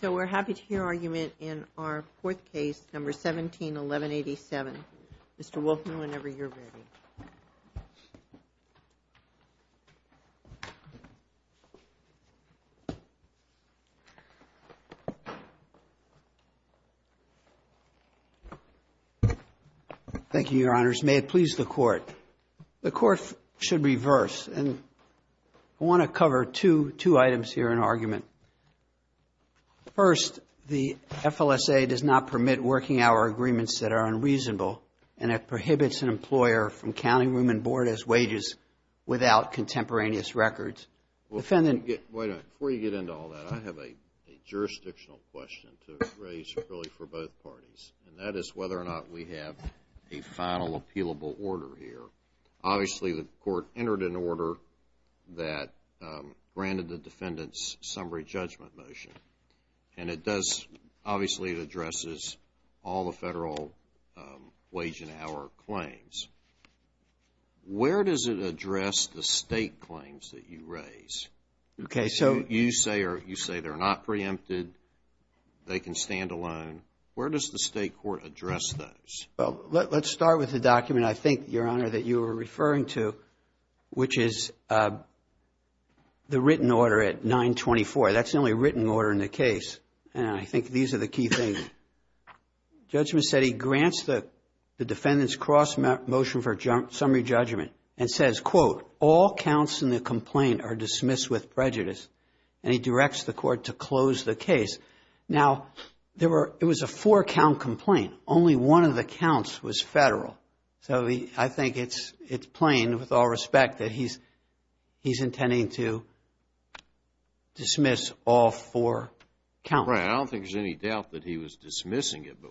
So we're happy to hear argument in our fourth case, No. 17-1187. Mr. Wolfman, whenever you're ready. Thank you, Your Honors. May it please the Defendant, I want to cover two items here in argument. First, the FLSA does not permit working hour agreements that are unreasonable, and it prohibits an employer from counting room and board as wages without contemporaneous records. Wait a minute. Before you get into all that, I have a jurisdictional question to raise really for both parties, and that is whether or not we have a final appealable order here. Obviously, the Court entered an order that granted the Defendant's summary judgment motion, and it does, obviously, it addresses all the federal wage and hour claims. Where does it address the state claims that you raise? Okay, so. You say they're not preempted, they can stand alone. Where does the state court address those? Well, let's start with the document, I think, Your Honor, that you were referring to, which is the written order at 924. That's the only written order in the case, and I think these are the key things. Judgment said he grants the Defendant's cross motion for summary judgment and says, quote, all counts in the complaint are dismissed with prejudice, and he directs the Court to close the case. Now, there were, it was a four-count complaint. Only one of the counts was federal, so I think it's plain, with all respect, that he's intending to dismiss all four counts. Right, I don't think there's any doubt that he was dismissing it, but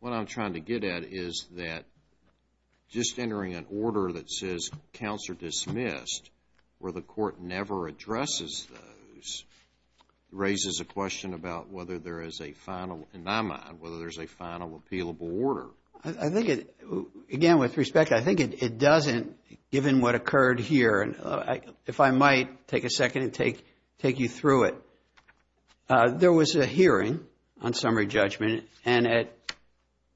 what I'm trying to get at is that just entering an order that says counts are dismissed, where the Court never addresses those, raises a question about whether there is a final, in my mind, whether there's a final appealable order. I think it, again, with respect, I think it doesn't, given what occurred here, and if I might take a second and take you through it. There was a hearing on summary judgment, and at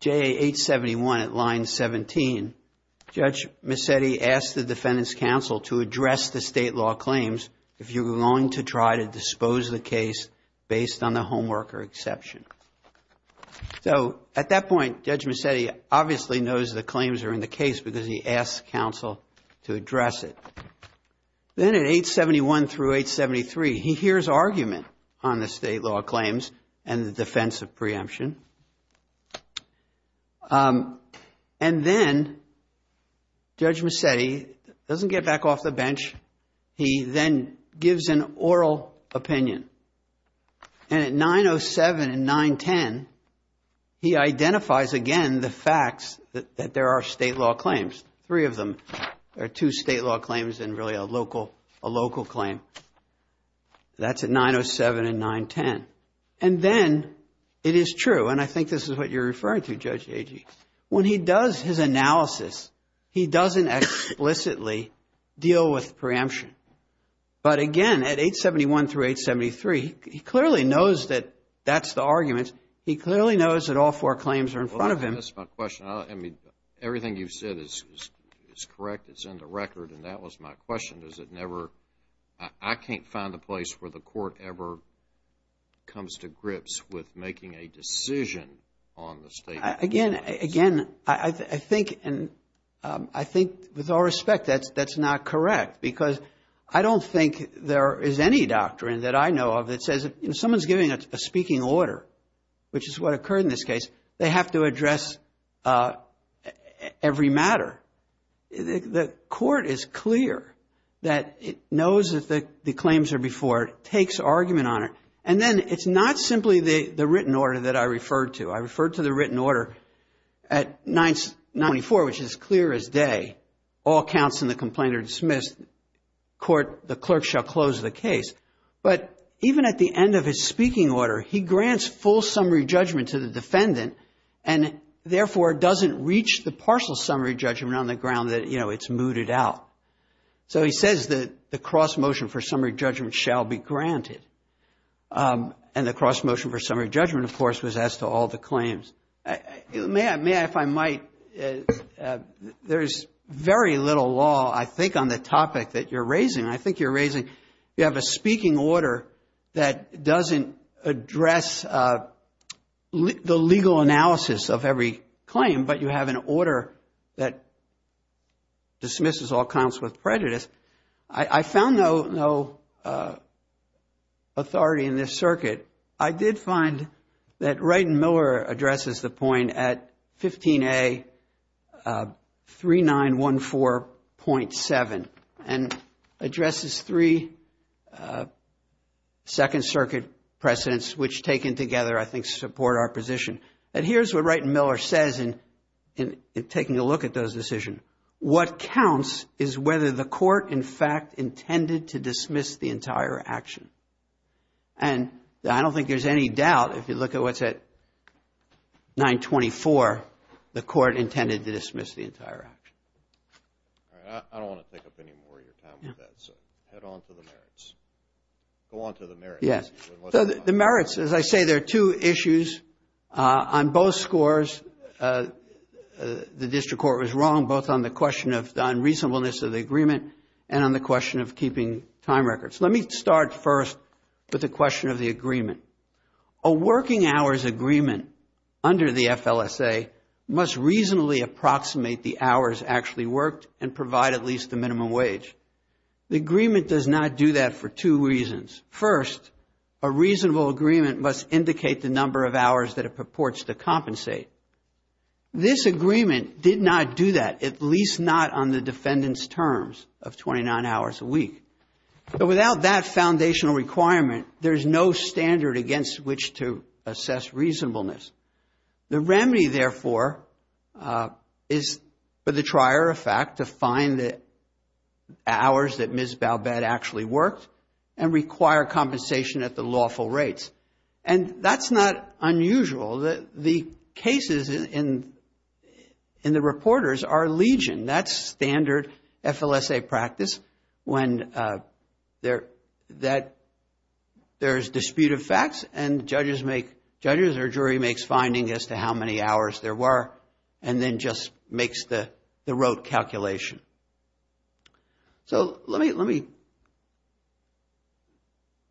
JA 871 at line 17, Judge Mazzetti asked the Defendant's counsel to address the state law claims, if you're going to try to dispose the case based on the homeworker exception. So, at that point, Judge Mazzetti obviously knows the claims are in the case because he asked counsel to address it. Then at 871 through 873, he hears argument on the state law claims and the defense of preemption, and then Judge Mazzetti doesn't get back off the bench. He then gives an oral opinion, and at 907 and 910, he identifies, again, the facts that there are state law claims, three of them. There are two state law claims and really a local claim. That's at 907 and 910, and then it is true, and I think this is what you're referring to, Judge Agee. When he does his analysis, he doesn't explicitly deal with preemption, but again, at 871 through 873, he clearly knows that that's the argument. He clearly knows that all four claims are in front of him. Well, that's my question. I mean, everything you've said is correct. It's in the record, and that was my question. Does it never... I can't find a place where the court ever comes to grips with making a decision on the state of the law. Again, I think with all respect, that's not correct because I don't think there is any doctrine that I know of that says if someone's giving a speaking order, which is what occurred in this case, they have to address every matter. The court is clear that it knows that the claims are before it, takes argument on it, and then it's not simply the written order that I referred to. I referred to the written order at 994, which is clear as day. All counts in the complaint are dismissed. The clerk shall close the case, but even at the end of his speaking order, he grants full summary judgment to the defendant and therefore doesn't reach the partial summary judgment on the ground that it's mooted out. So he says that the cross-motion for summary judgment shall be granted, and the cross-motion for summary judgment, of course, was as to all the claims. May I, if I might... There's very little law, I think, on the topic that you're raising. I think you're raising... You said that doesn't address the legal analysis of every claim, but you have an order that dismisses all counts with prejudice. I found no authority in this circuit. I did find that the two Second Circuit precedents, which taken together, I think, support our position. Here's what Wright and Miller says in taking a look at those decisions. What counts is whether the court, in fact, intended to dismiss the entire action. I don't think there's any doubt if you look at what's at 924, the court intended to dismiss the entire action. All right. I don't want to take up any more of your time with that, so head on to the merits. Go on to the merits. Yes. So the merits, as I say, there are two issues on both scores. The district court was wrong, both on the question of the unreasonableness of the agreement and on the question of keeping time records. Let me start first with the question of the agreement. A working hours agreement under the FLSA must reasonably approximate the hours actually worked and provide at least the minimum wage. The agreement does not do that for two reasons. First, a reasonable agreement must indicate the number of hours that it purports to compensate. This agreement did not do that, at least not on the defendant's terms of 29 hours a week. But without that reasonableness. The remedy, therefore, is for the trier of fact to find the hours that Ms. Balbette actually worked and require compensation at the lawful rates. And that's not unusual. The cases in the reporters are legion. That's standard FLSA practice when there's dispute of facts and judges or jury makes findings as to how many hours there were and then just makes the rote calculation. So let me,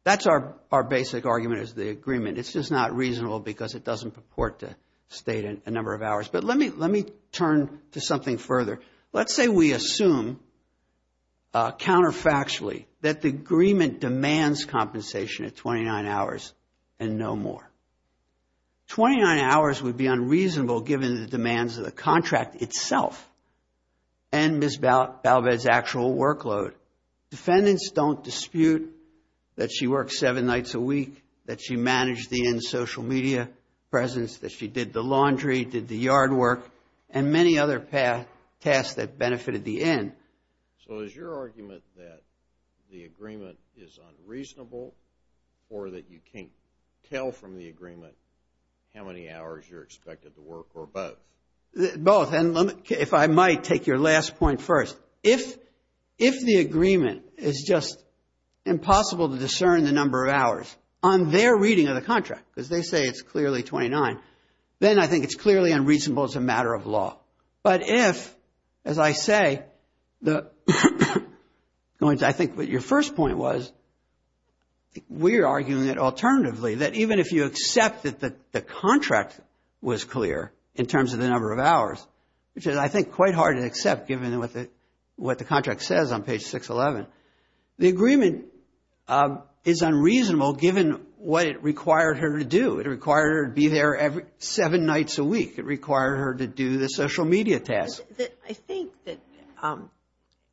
that's our basic argument is the agreement. It's just not reasonable because it doesn't purport to state a number of hours. But let me turn to something further. Let's say we assume counterfactually that the agreement demands compensation at 29 hours and no more. Twenty-nine hours would be unreasonable given the demands of the contract itself and Ms. Balbette's actual workload. Defendants don't dispute that she worked seven nights a week, that she managed the in social media presence, that she did the laundry, did the yard work and many other tasks that benefited the in. So is your argument that the agreement is unreasonable or that you can't tell from the agreement how many hours you're expected to work or both? Both and let me, if I might take your last point first. If the agreement is just impossible to discern the number of hours on their reading of the contract because they say it's clearly 29, then I think it's clearly unreasonable as a matter of law. But if, as I say, going to I think what your first point was, we're arguing that alternatively, that even if you accept that the contract was clear in terms of the number of hours, which is I think quite hard to accept given what the contract says on page 611, the agreement is unreasonable given what it required her to do. It required her to be there seven nights a week. It required her to do the social media tasks. I think that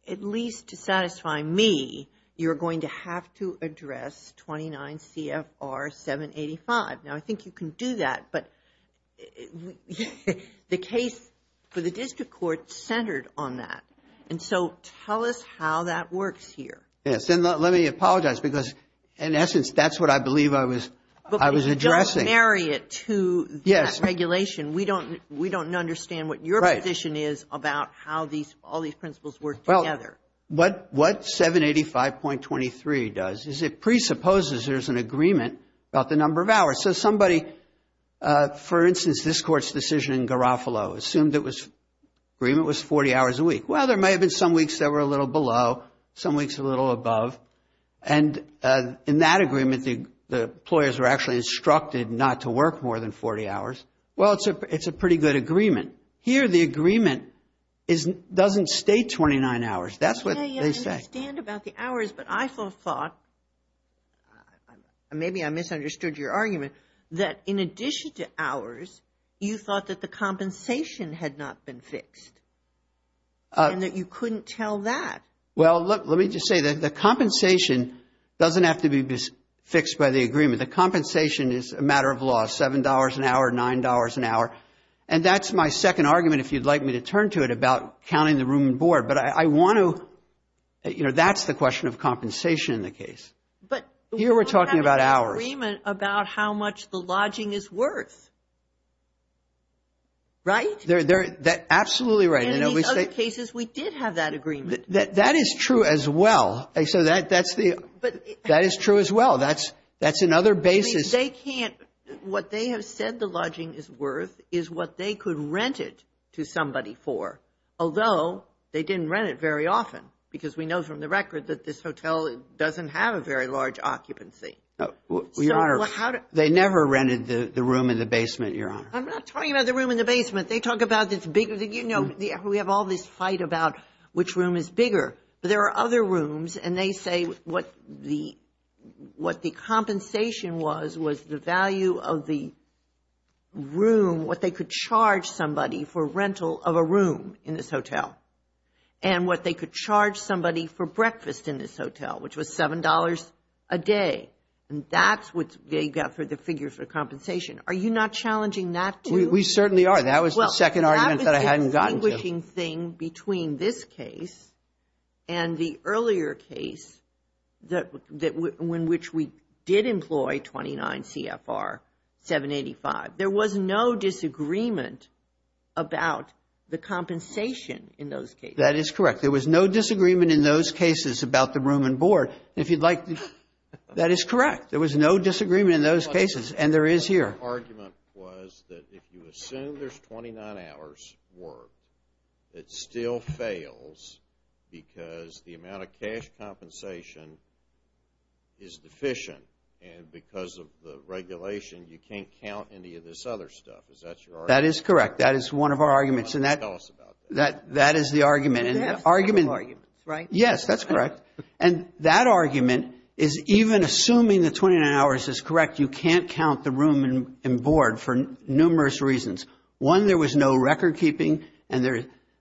at least to satisfy me, you're going to have to address 29 CFR 785. Now I think you can do that, but the case for the district court centered on that. And so tell us how that works here. Yes, and let me apologize because in essence, that's what I believe I was addressing. But if you don't marry it to that regulation, we don't understand what your position is about how all these principles work together. What 785.23 does is it presupposes there's an agreement about the number of hours. So somebody, for instance, this court's decision in Garofalo assumed the agreement was 40 hours a week. Well, there may have been some weeks that were a little below, some weeks a little above. And in that agreement, the employers were actually instructed not to work more than 40 hours. Well, it's a pretty good agreement. Here, the agreement doesn't state 29 hours. That's what they say. Yes, I understand about the hours, but I thought, maybe I misunderstood your argument, that in addition to hours, you thought that the compensation had not been fixed and that you couldn't tell that. Well, let me just say that the compensation doesn't have to be fixed by the agreement. The compensation is a matter of law, $7 an hour, $9 an hour. And that's my second argument, if you'd like me to turn to it, about counting the room and board. But I want to, you know, that's the question of compensation in the case. But here we're talking about hours. We have an agreement about how much the lodging is worth. Right? Absolutely right. And in these other cases, we did have that agreement. That is true as well. So that is true as well. That's another basis. What they have said the lodging is worth is what they could rent it to somebody for, although they didn't rent it very often, because we know from the record that this hotel doesn't have a very large occupancy. Your Honor, they never rented the room in the basement, Your Honor. I'm not talking about the room in the basement. They talk about this big, you know, we have all this fight about which room is bigger. But there are other rooms, and they say what the, what the compensation was was the value of the room, what they could charge somebody for rental of a room in this hotel, and what they could charge somebody for breakfast in this hotel, which was $7 a day. And that's what they got for the figures for compensation. Are you not challenging that, too? We certainly are. That was the second argument that I hadn't gotten to. Well, that was the distinguishing thing between this case and the earlier case that, in which we did employ 29 CFR 785. There was no disagreement about the compensation in those cases. That is correct. There was no disagreement in those cases about the room and board. If you'd like, that is correct. There was no disagreement in those cases, and there is here. My argument was that if you assume there's 29 hours worth, it still fails because the amount of cash compensation is deficient, and because of the regulation, you can't count any of this other stuff. Is that your argument? That is correct. That is one of our arguments, and that is the argument, and that argument is even assuming the 29 hours is correct, you can't count the room and board for numerous reasons. One, there was no recordkeeping, and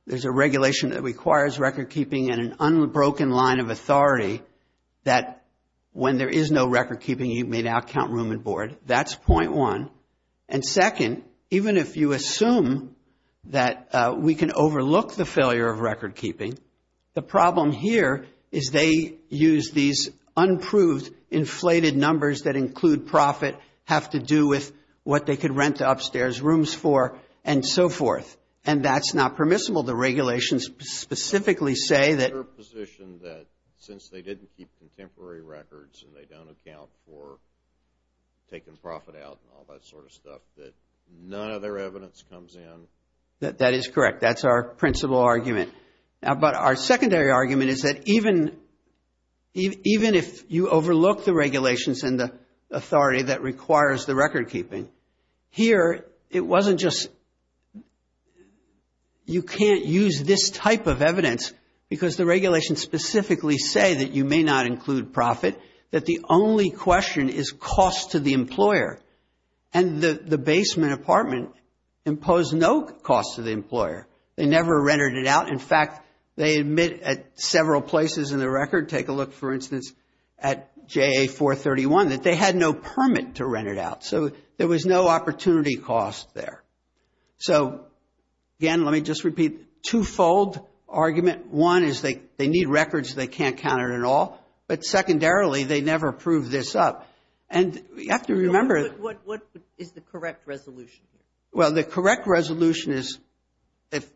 there's a regulation that requires recordkeeping and an unbroken line of authority that when there is no recordkeeping, you may not count room and board. That's point one, and second, even if you assume that we can overlook the failure of recordkeeping, the problem here is they use these unproved inflated numbers that include profit, have to do with what they could rent upstairs rooms for, and so forth, and that's not permissible. The regulations specifically say that they're in a position that since they didn't keep contemporary records and they don't account for taking profit out and all that sort of stuff, that none of their evidence comes in. That is correct. That's our principal argument, but our secondary argument is that even if you overlook the regulations and the authority that requires the recordkeeping, here it wasn't just you can't use this type of evidence because the regulations specifically say that you may not include profit, that the only question is cost to the employer, and the basement apartment imposed no cost to the employer. They never rented it out. In fact, they admit at several places in the record, take a look, for instance, at JA-431, that they had no opportunity cost there. So, again, let me just repeat, two-fold argument. One is they need records, they can't count it at all, but secondarily, they never prove this up, and you have to remember... What is the correct resolution here? Well, the correct resolution is if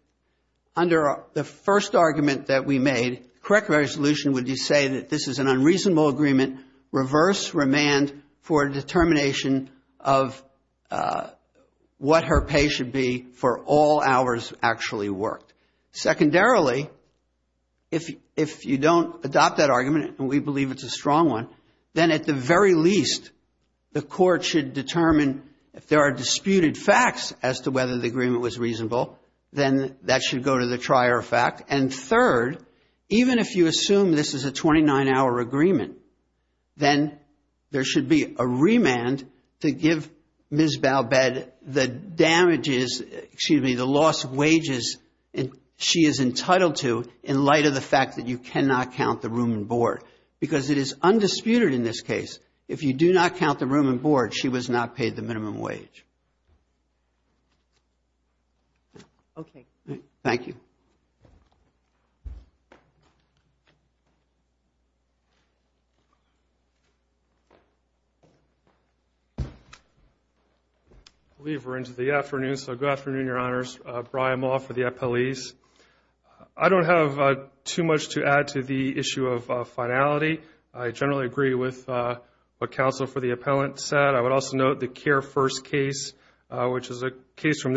under the first argument that we made, the correct resolution would say that this is an unreasonable agreement, reverse remand for a determination of what her pay should be for all hours actually worked. Secondarily, if you don't adopt that argument, and we believe it's a strong one, then at the very least, the court should determine if there are disputed facts as to whether the agreement was reasonable, then that should go to the trier fact, and third, even if you assume this is a 29-hour agreement, then there should be a remand to give Ms. Balbed the damages, excuse me, the loss of wages she is entitled to in light of the fact that you cannot count the room and board, because it is undisputed in this case. If you do not count the room and board, she was not paid the minimum wage. Okay. Thank you. I believe we're into the afternoon, so good afternoon, Your Honors. Brian Maugh for the appellees. I don't have too much to add to the issue of finality. I generally agree with what counsel for the appellant said. I would also note the Kerr first case, which is a statute,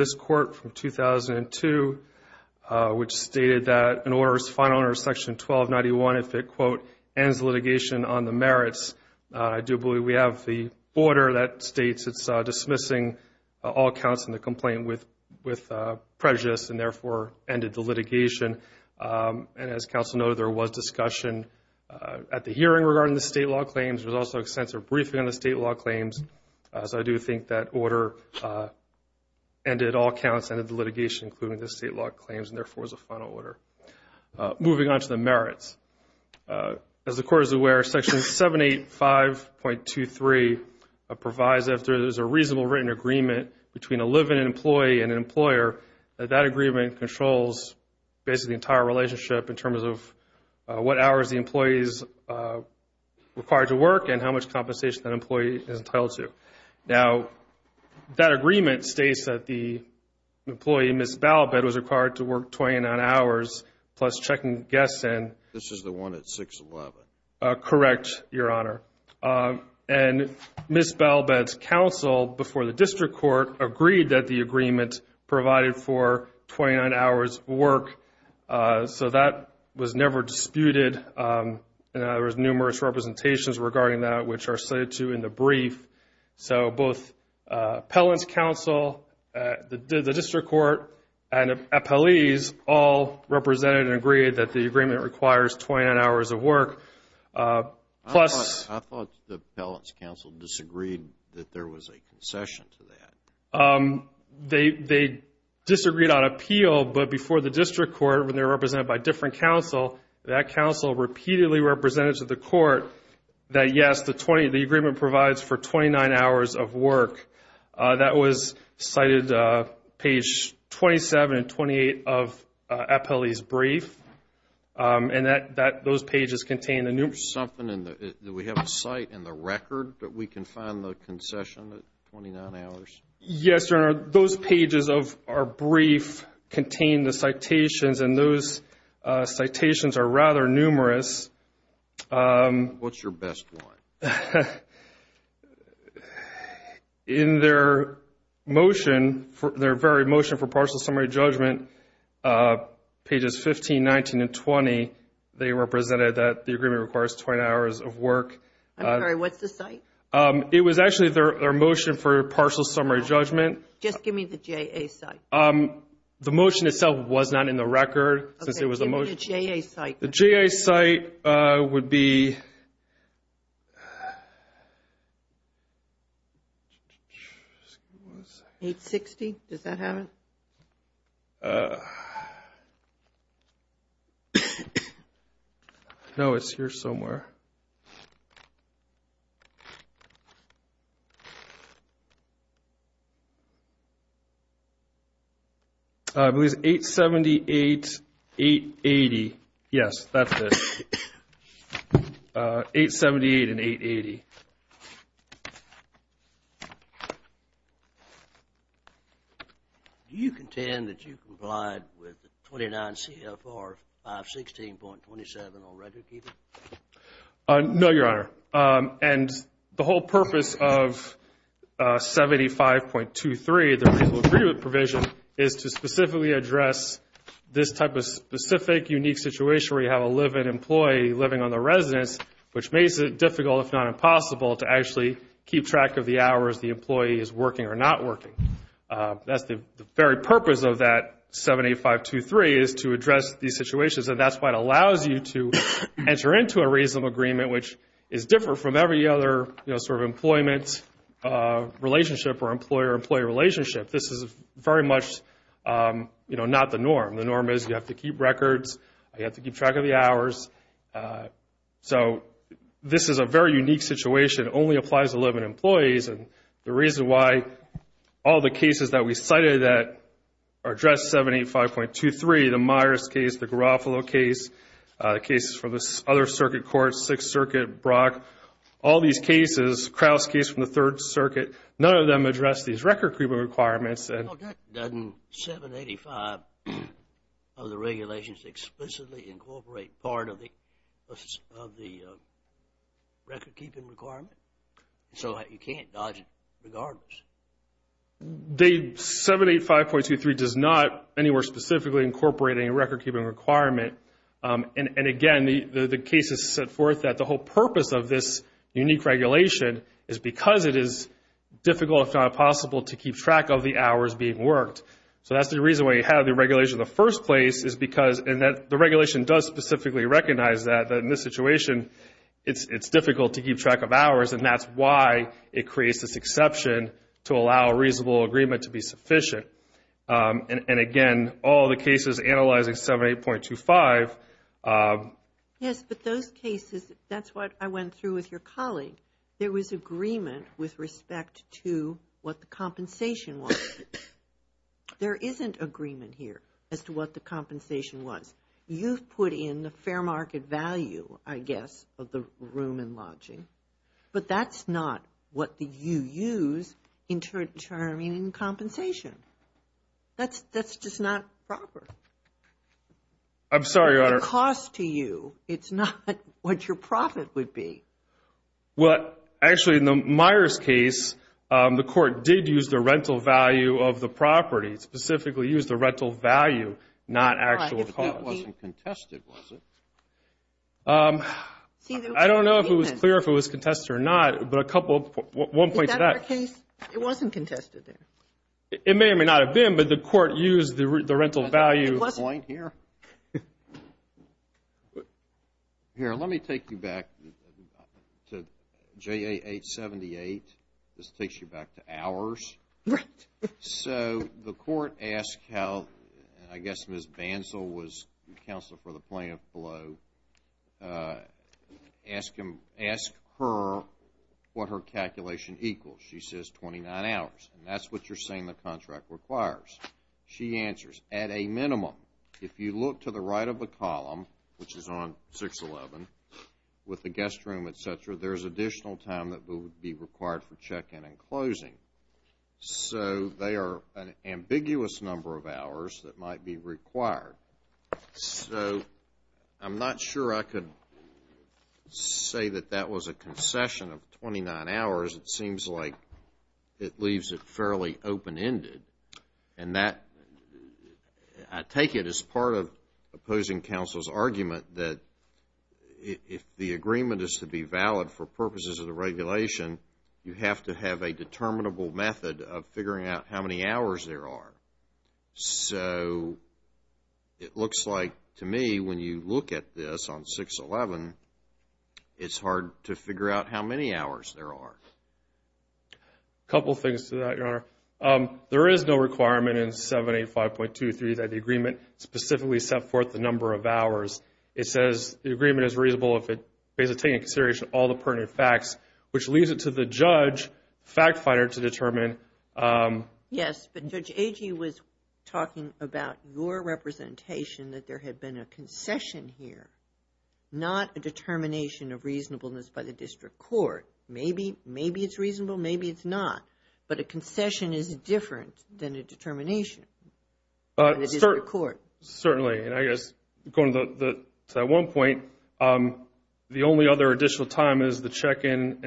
which stated that an order is final under section 1291 if it, quote, ends litigation on the merits. I do believe we have the order that states it's dismissing all counts in the complaint with prejudice and therefore ended the litigation, and as counsel noted, there was discussion at the hearing regarding the state law claims. There was also extensive briefing on the state law claims, so I do think that order ended all counts, ended the state law claims, and therefore was a final order. Moving on to the merits. As the Court is aware, section 785.23 provides that if there is a reasonable written agreement between a living employee and an employer, that that agreement controls basically the entire relationship in terms of what hours the employee is required to work and how much compensation that employee is entitled to. Now, that agreement states that the employee, Ms. Balbett, was required to work 29 hours plus checking guests in. This is the one at 611. Correct, Your Honor. And Ms. Balbett's counsel before the District Court agreed that the agreement provided for 29 hours of work, so that was never disputed. There was numerous the District Court and the appellees all represented and agreed that the agreement requires 29 hours of work. I thought the appellant's counsel disagreed that there was a concession to that. They disagreed on appeal, but before the District Court, when they were represented by different counsel, that counsel repeatedly represented to the Court that, yes, the agreement provides for 29 hours of work. That was cited on page 27 and 28 of the appellee's brief, and those pages contain the numerous... There's something in the... Do we have a cite in the record that we can find the concession at 29 hours? Yes, Your Honor. Those pages of our brief contain the citations, and those citations are rather numerous. What's your best one? In their motion, their very motion for partial summary judgment, pages 15, 19, and 20, they represented that the agreement requires 29 hours of work. I'm sorry. What's the cite? It was actually their motion for partial summary judgment. Just give me the JA cite. The motion itself was not in the record, since it was a motion. Okay. Give me the JA cite. The JA cite would be... 860? Does that have it? No, it's here somewhere. I believe it's 878, 880. Yes, that's it. 878 and 880. Do you contend that you complied with 29 CFR 516.27 on record keeping? No, Your Honor. And the whole purpose of 75.23, the reasonable agreement provision, is to specifically address this type of specific, unique situation where you have a live-in employee living on the residence, which makes it difficult, if not impossible, to actually keep track of the hours the employee is working or not working. That's the very purpose of that 75.23, is to address these situations. And that's why it allows you to enter into a reasonable agreement, which is different from every other employment relationship or employer-employee relationship. This is very much not the norm. The norm is you have to keep records, you have to keep track of the hours. This is a very unique situation. It only applies to live-in employees. The reason why all the cases that we cited that address 75.23, the Myers case, the Garofalo case, the cases for the other circuit courts, Sixth Circuit, Brock, all these cases, Krauss case from the Third Circuit, none of them address these record-keeping requirements. Well, doesn't 785 of the regulations explicitly incorporate part of the record-keeping requirement? The 785.23 does not anywhere specifically incorporate a record-keeping requirement. And, again, the case has set forth that the whole purpose of this unique regulation is because it is difficult, if not impossible, to keep track of the hours being worked. So that's the reason why you have the regulation in the first place, is because the regulation does specifically recognize that in this situation it's difficult to keep track of hours, and that's why it creates this exception to allow a reasonable agreement to be sufficient. And, again, all the cases analyzing 78.25... Yes, but those cases, that's what I went through with your colleague. There was agreement with respect to what the compensation was. There isn't agreement here as to what the compensation was. You've put in the fair market value, I guess, of the room and lodging, but that's not what you use in determining compensation. That's just not proper. I'm sorry, Your Honor. It's a cost to you. It's not what your profit would be. Well, actually, in the Myers case, the court did use the rental value of the property, specifically used the rental value, not actual cost. But it wasn't contested, was it? I don't know if it was clear if it was contested or not, but a couple... Is that our case? It wasn't contested there. It may or may not have been, but the court used the rental value... Was there a point here? Here, let me take you back to JA 878. This takes you back to hours. Right. So, the court asked how, I guess Ms. Bansal was counsel for the plaintiff below, asked her what her calculation equals. She says 29 hours, and that's what you're saying the contract requires. She answers, at a minimum, if you look to the right of the column, which is on 611, with the guest room, etc., there's additional time that would be required for an ambiguous number of hours that might be required. So, I'm not sure I could say that that was a concession of 29 hours. It seems like it leaves it fairly open-ended, and I take it as part of opposing counsel's argument that if the agreement is to be valid for purposes of the regulation, you have to have a determinable method of figuring out how many hours there are. So, it looks like, to me, when you look at this on 611, it's hard to figure out how many hours there are. A couple things to that, Your Honor. There is no requirement in 785.23 that the agreement specifically set forth the number of hours. It says the agreement is reasonable if it takes into consideration all the pertinent facts, which leaves it to the judge, fact and government. Yes, but Judge Agee was talking about your representation that there had been a concession here, not a determination of reasonableness by the district court. Maybe it's reasonable, maybe it's not, but a concession is different than a determination by the district court. Certainly, and I guess, going to that one point, the only other additional time is the check-in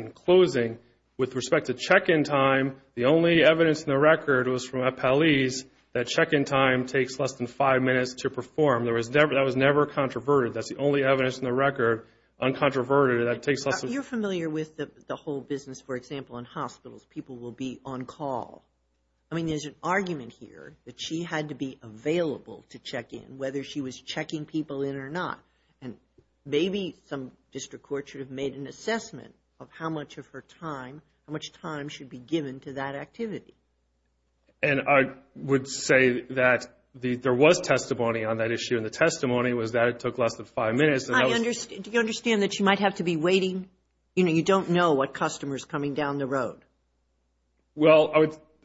time. The only evidence in the record was from Appellee's that check-in time takes less than 5 minutes to perform. That was never controverted. That's the only evidence in the record, uncontroverted, that takes less than 5 minutes. You're familiar with the whole business, for example, in hospitals, people will be on call. I mean, there's an argument here that she had to be available to check in, whether she was checking people in or not. Maybe some district court should have made an assessment of how much of her time, how much time should be given to that activity. And I would say that there was testimony on that issue, and the testimony was that it took less than 5 minutes. Do you understand that she might have to be waiting? You know, you don't know what customer is coming down the road. Well,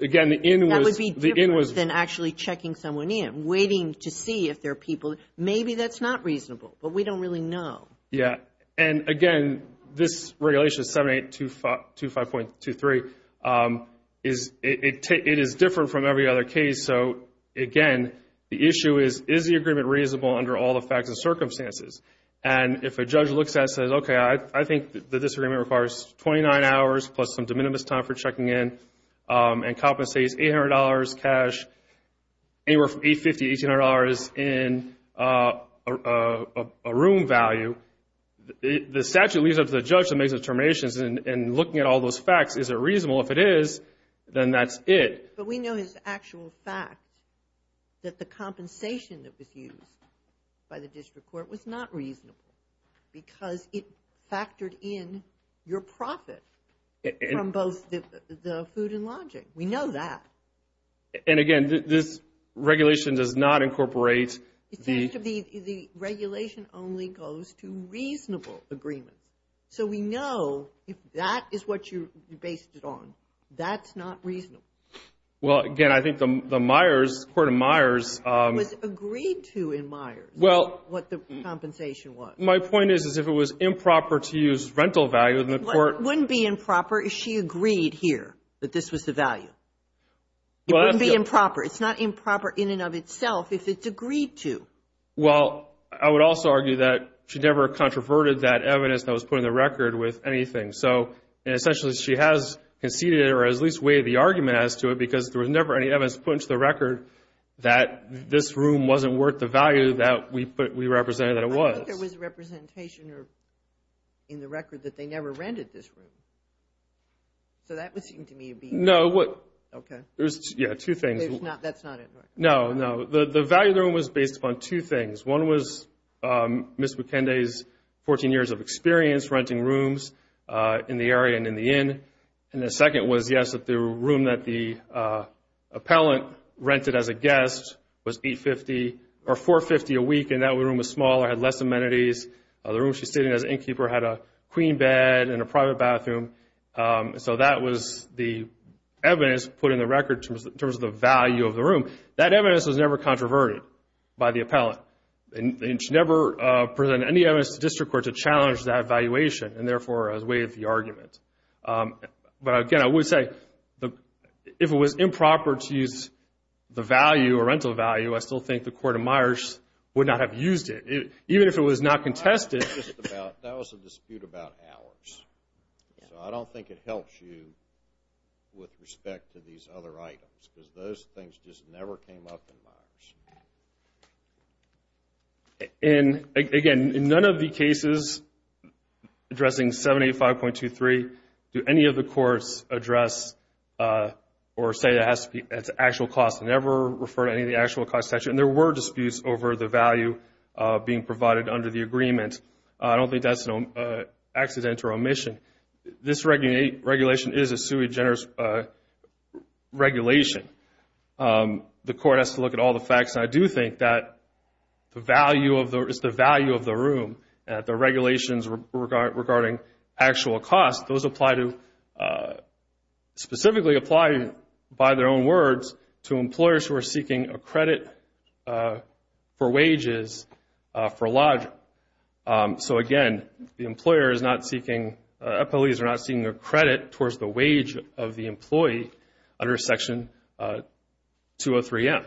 again, the in was... That would be different than actually checking someone in, waiting to see if there are people. Maybe that's not reasonable, but we don't really know. Yeah, and again, this regulation 7825.23, it is different from every other case. So, again, the issue is, is the agreement reasonable under all the facts and circumstances? And if a judge looks at it and says, okay, I think that this agreement requires 29 hours plus some de minimis time for checking in, and compensates $800 cash, anywhere from $850 to $1,800 in a room value, the statute leaves it up to the judge to make determinations and looking at all those facts, is it reasonable? If it is, then that's it. But we know as actual fact that the compensation that was used by the district court was not reasonable because it factored in your profit from both the food and lodging. We know that. And again, this regulation does not incorporate the... The regulation only goes to reasonable agreements. So we know if that is what you based it on, that's not reasonable. Well, again, I think the Myers, Court of Myers... Was agreed to in Myers, what the compensation was. My point is, is if it was improper to use rental value, then the court... It wouldn't be improper. It's not improper in and of itself if it's agreed to. Well, I would also argue that she never controverted that evidence that was put in the record with anything. So, essentially, she has conceded or at least weighed the argument as to it because there was never any evidence put into the record that this room wasn't worth the value that we represented that it was. I thought there was representation in the record that they never rented this room. So that would seem to me to be... No. Okay. Yeah, two things. That's not in the record. No, no. The value of the room was based upon two things. One was Ms. McKenday's 14 years of experience renting rooms in the area and in the inn. And the second was, yes, that the room that the appellant rented as a guest was $450 a week. And that room was smaller, had less amenities. The room she stayed in as innkeeper had a queen bed and a private bathroom. So that was the evidence put in the record in terms of the value of the room. That evidence was never controverted by the appellant. And she never presented any evidence to district court to challenge that evaluation and, therefore, has weighed the argument. But, again, I would say if it was improper to use the value or rental value, I still think the Court of Myers would not have used it. Even if it was not contested... That was a dispute about hours. So I don't think it helps you with respect to these other items because those things just never came up in Myers. And, again, in none of the cases addressing 785.23 do any of the courts address or say it has to be at the actual cost and never refer to any of the actual costs. And there were disputes over the value being provided under the agreement. I don't think that's an accidental omission. This regulation is a sui generis regulation. The court has to look at all the facts. And I do think that the value of the room, the regulations regarding actual costs, those apply to, specifically apply, by their own words, to employers who are seeking a credit for wages for lodging. So, again, the employer is not seeking, employees are not seeking a credit towards the wage of the employee under Section 203M.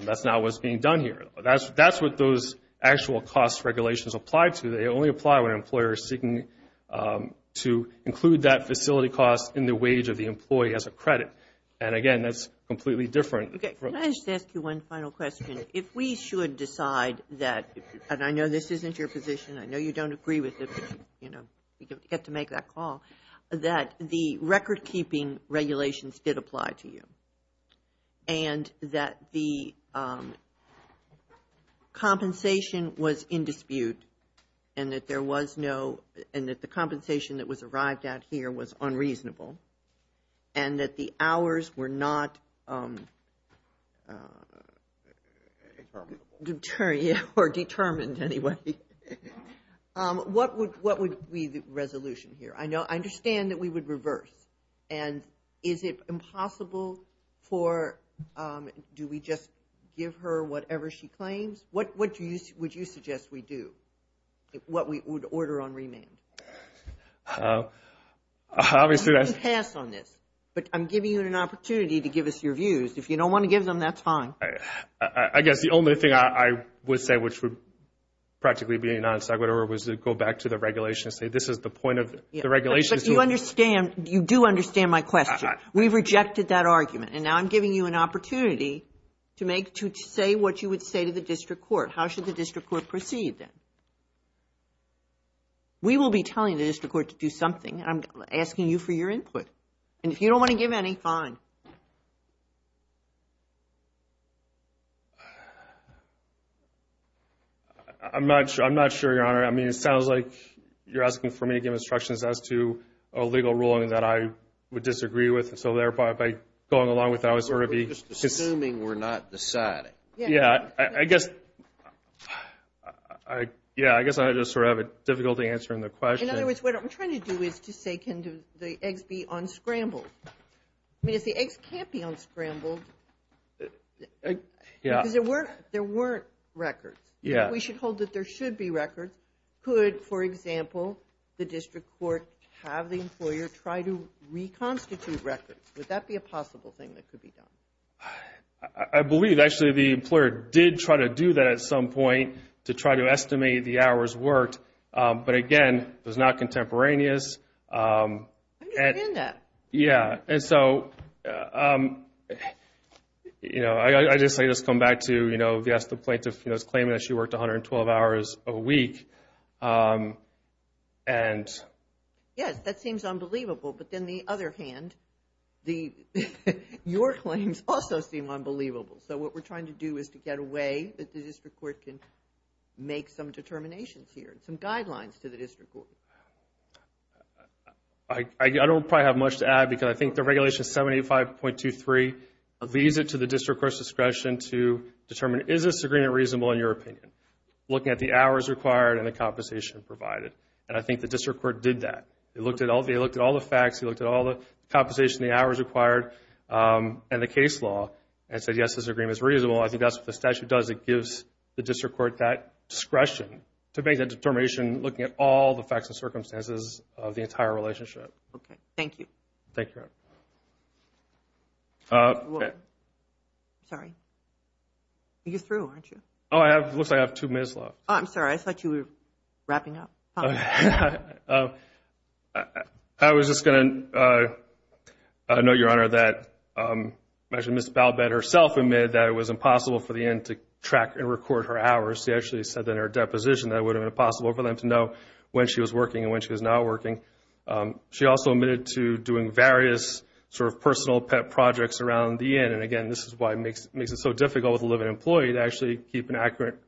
That's not what's being done here. That's what those actual cost regulations apply to. They only apply when an employer is seeking to include that facility cost in the wage of the employee as a credit. And, again, that's completely different. Can I just ask you one final question? If we should decide that, and I know this isn't your position, I know you don't agree with it, but you get to make that call, that the record-keeping regulations did apply to you and that the compensation was in dispute and that there was no, and that the compensation that was arrived at here was unreasonable and that the hours were not determined anyway, what would be the resolution here? I understand that we would reverse. And is it impossible for, do we just give her whatever she claims? What would you suggest we do? What we would order on remand? You can pass on this, but I'm giving you an opportunity to give us your views. If you don't want to give them, that's fine. I guess the only thing I would say, which would practically be a non-segwiter, was to go back to the regulations and say this is the point of the regulations. But you understand, you do understand my question. We rejected that argument. And now I'm giving you an opportunity to say what you would say to the district court. How should the district court proceed then? We will be telling the district court to do something. I'm asking you for your input. And if you don't want to give any, fine. I'm not sure, Your Honor. I mean, it sounds like you're asking for me to give instructions as to a legal ruling that I would disagree with. And so, thereby, by going along with that, I would sort of be. We're just assuming we're not deciding. Yeah, I guess I just sort of have a difficult answer in the question. In other words, what I'm trying to do is to say can the eggs be unscrambled? I mean, if the eggs can't be unscrambled, because there weren't records, we should hold that there should be records. Could, for example, the district court have the employer try to reconstitute records? Would that be a possible thing that could be done? I believe, actually, the employer did try to do that at some point to try to estimate the hours worked. But, again, it was not contemporaneous. I understand that. Yeah, and so, you know, I guess I just come back to, you know, the plaintiff is claiming that she worked 112 hours a week. Yes, that seems unbelievable. But then the other hand, your claims also seem unbelievable. So what we're trying to do is to get a way that the district court can make some determinations here, some guidelines to the district court. I don't probably have much to add because I think the regulation 785.23 leads it to the district court's discretion to determine is this agreement reasonable in your opinion, looking at the hours required and the compensation provided. And I think the district court did that. They looked at all the facts. They looked at all the compensation, the hours required, and the case law, and said, yes, this agreement is reasonable. I think that's what the statute does. It gives the district court that discretion to make that determination, looking at all the facts and circumstances of the entire relationship. Okay. Thank you. Thank you. Sorry. You're through, aren't you? Oh, it looks like I have two minutes left. Oh, I'm sorry. I thought you were wrapping up. I was just going to note, Your Honor, that Ms. Balbett herself admitted that it was impossible for the inn to track and record her hours. She actually said that in her deposition that it would have been impossible for them to know when she was working and when she was not working. She also admitted to doing various sort of personal pet projects around the inn. And, again, this is why it makes it so difficult with a living employee to actually keep an accurate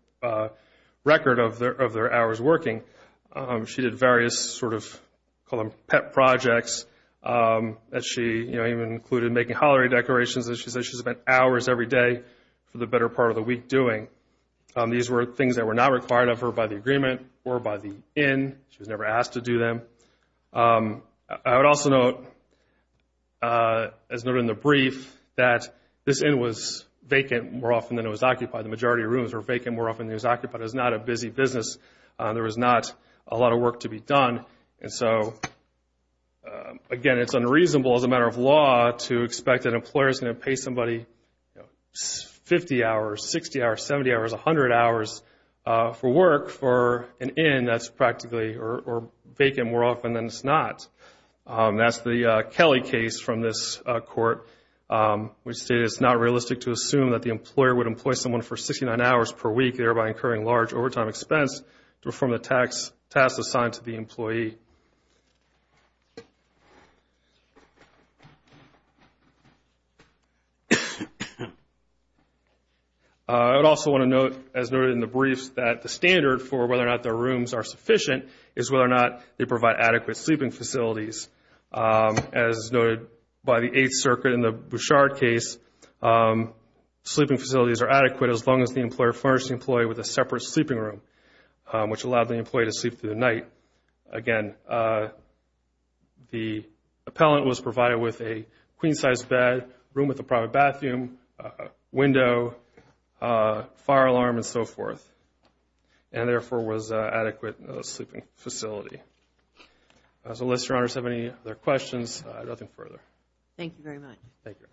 record of their hours working. She did various sort of pet projects. She even included making holiday decorations. She said she spent hours every day for the better part of the week doing. These were things that were not required of her by the agreement or by the inn. She was never asked to do them. I would also note, as noted in the brief, that this inn was vacant more often than it was occupied. The majority of rooms were vacant more often than it was occupied. It was not a busy business. There was not a lot of work to be done. And so, again, it's unreasonable as a matter of law to expect an employer is going to pay somebody 50 hours, 60 hours, 70 hours, 100 hours for work for an inn that's practically vacant more often than it's not. That's the Kelly case from this court, which stated it's not realistic to assume that the employer would to perform the tasks assigned to the employee. I would also want to note, as noted in the brief, that the standard for whether or not the rooms are sufficient is whether or not they provide adequate sleeping facilities. As noted by the Eighth Circuit in the Bouchard case, sleeping facilities are adequate as long as the employer furnished the employee with a separate sleeping room, which allowed the employee to sleep through the night. Again, the appellant was provided with a queen-size bed, room with a private bathroom, window, fire alarm, and so forth, and, therefore, was an adequate sleeping facility. Unless Your Honors have any other questions, I have nothing further. Thank you very much. Thank you.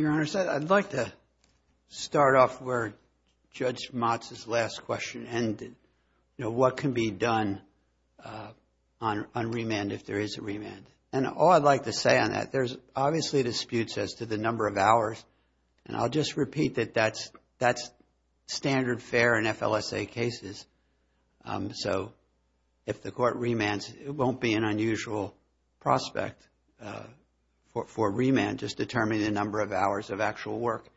Your Honors, I'd like to start off where Judge Motz's last question ended. You know, what can be done on remand if there is a remand? And all I'd like to say on that, there's obviously disputes as to the number of hours, and I'll just repeat that that's standard fare in FLSA cases. So if the court remands, it won't be an unusual prospect for remand, just determining the number of hours of actual work.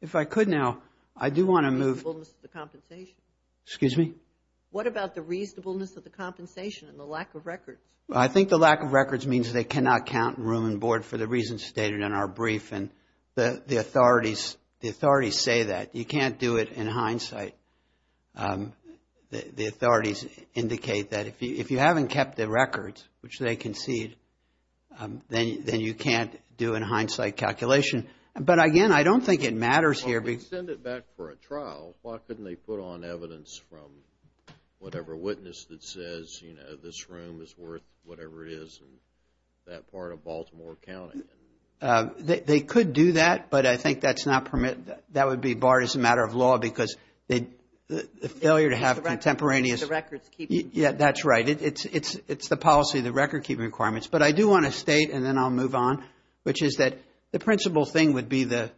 If I could now, I do want to move. The reasonableness of the compensation. Excuse me? What about the reasonableness of the compensation and the lack of records? I think the lack of records means they cannot count room and board for the reasons stated in our brief, and the authorities say that. You can't do it in hindsight. The authorities indicate that if you haven't kept the records, which they concede, then you can't do in hindsight calculation. But again, I don't think it matters here. Well, if they send it back for a trial, why couldn't they put on evidence from whatever witness that says, you know, this room is worth whatever it is in that part of Baltimore County? They could do that, but I think that's not permitted. That would be barred as a matter of law because the failure to have contemporaneous. The records keeping. Yeah, that's right. It's the policy, the record keeping requirements. But I do want to state, and then I'll move on, which is that the principal thing would be the.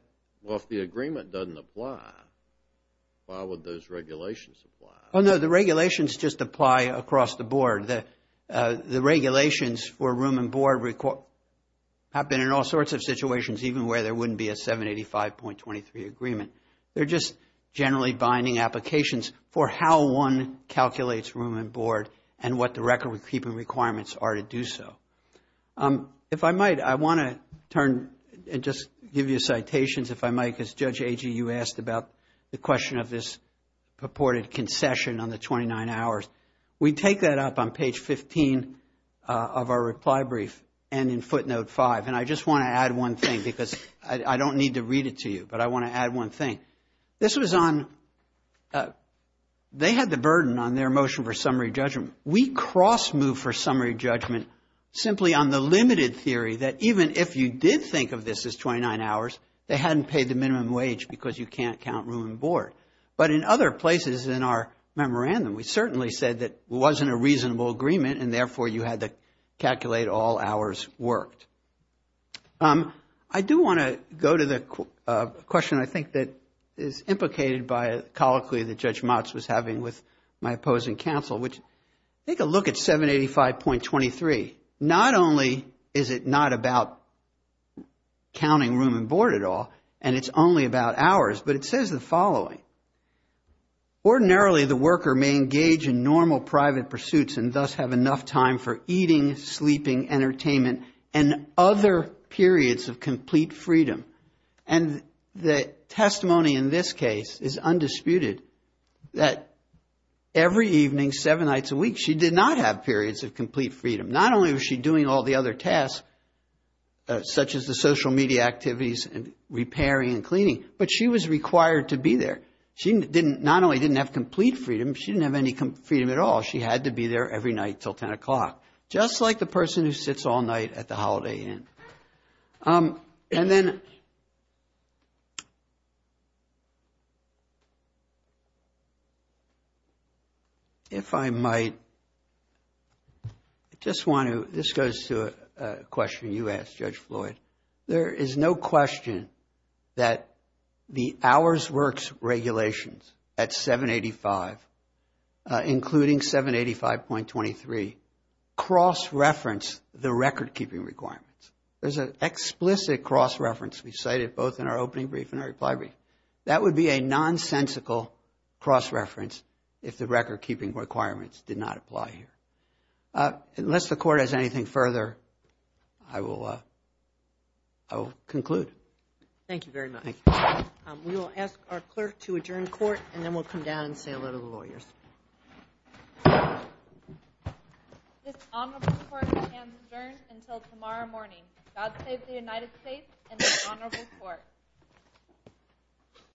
Well, if the agreement doesn't apply, why would those regulations apply? Oh, no, the regulations just apply across the board. The regulations for room and board have been in all sorts of situations, even where there wouldn't be a 785.23 agreement. They're just generally binding applications for how one calculates room and board and what the record keeping requirements are to do so. If I might, I want to turn and just give you citations, if I might, because Judge Agee, you asked about the question of this purported concession on the 29 hours. We take that up on page 15 of our reply brief and in footnote five. And I just want to add one thing because I don't need to read it to you, but I want to add one thing. This was on they had the burden on their motion for summary judgment. We cross moved for summary judgment simply on the limited theory that even if you did think of this as 29 hours, they hadn't paid the minimum wage because you can't count room and board. But in other places in our memorandum, we certainly said that wasn't a reasonable agreement and therefore you had to calculate all hours worked. I do want to go to the question I think that is implicated by a colloquy that Judge Motz was having with my opposing counsel, which take a look at 785.23. Not only is it not about counting room and board at all, and it's only about hours, but it says the following. Ordinarily, the worker may engage in normal private pursuits and thus have enough time for eating, sleeping, entertainment, and other periods of complete freedom. And the testimony in this case is undisputed that every evening, seven nights a week, she did not have periods of complete freedom. Not only was she doing all the other tasks, such as the social media activities and repairing and cleaning, but she was required to be there. She not only didn't have complete freedom, she didn't have any freedom at all. She had to be there every night until 10 o'clock, just like the person who sits all night at the Holiday Inn. And then if I might, I just want to, this goes to a question you asked, Judge Floyd. There is no question that the Hours Works regulations at 785, including 785.23, cross-reference the record-keeping requirements. There's an explicit cross-reference we cited both in our opening brief and our reply brief. That would be a nonsensical cross-reference if the record-keeping requirements did not apply here. Unless the court has anything further, I will conclude. Thank you very much. Thank you. We will ask our clerk to adjourn court, and then we'll come down and say a little to the lawyers. This honorable court shall adjourn until tomorrow morning. God save the United States and this honorable court.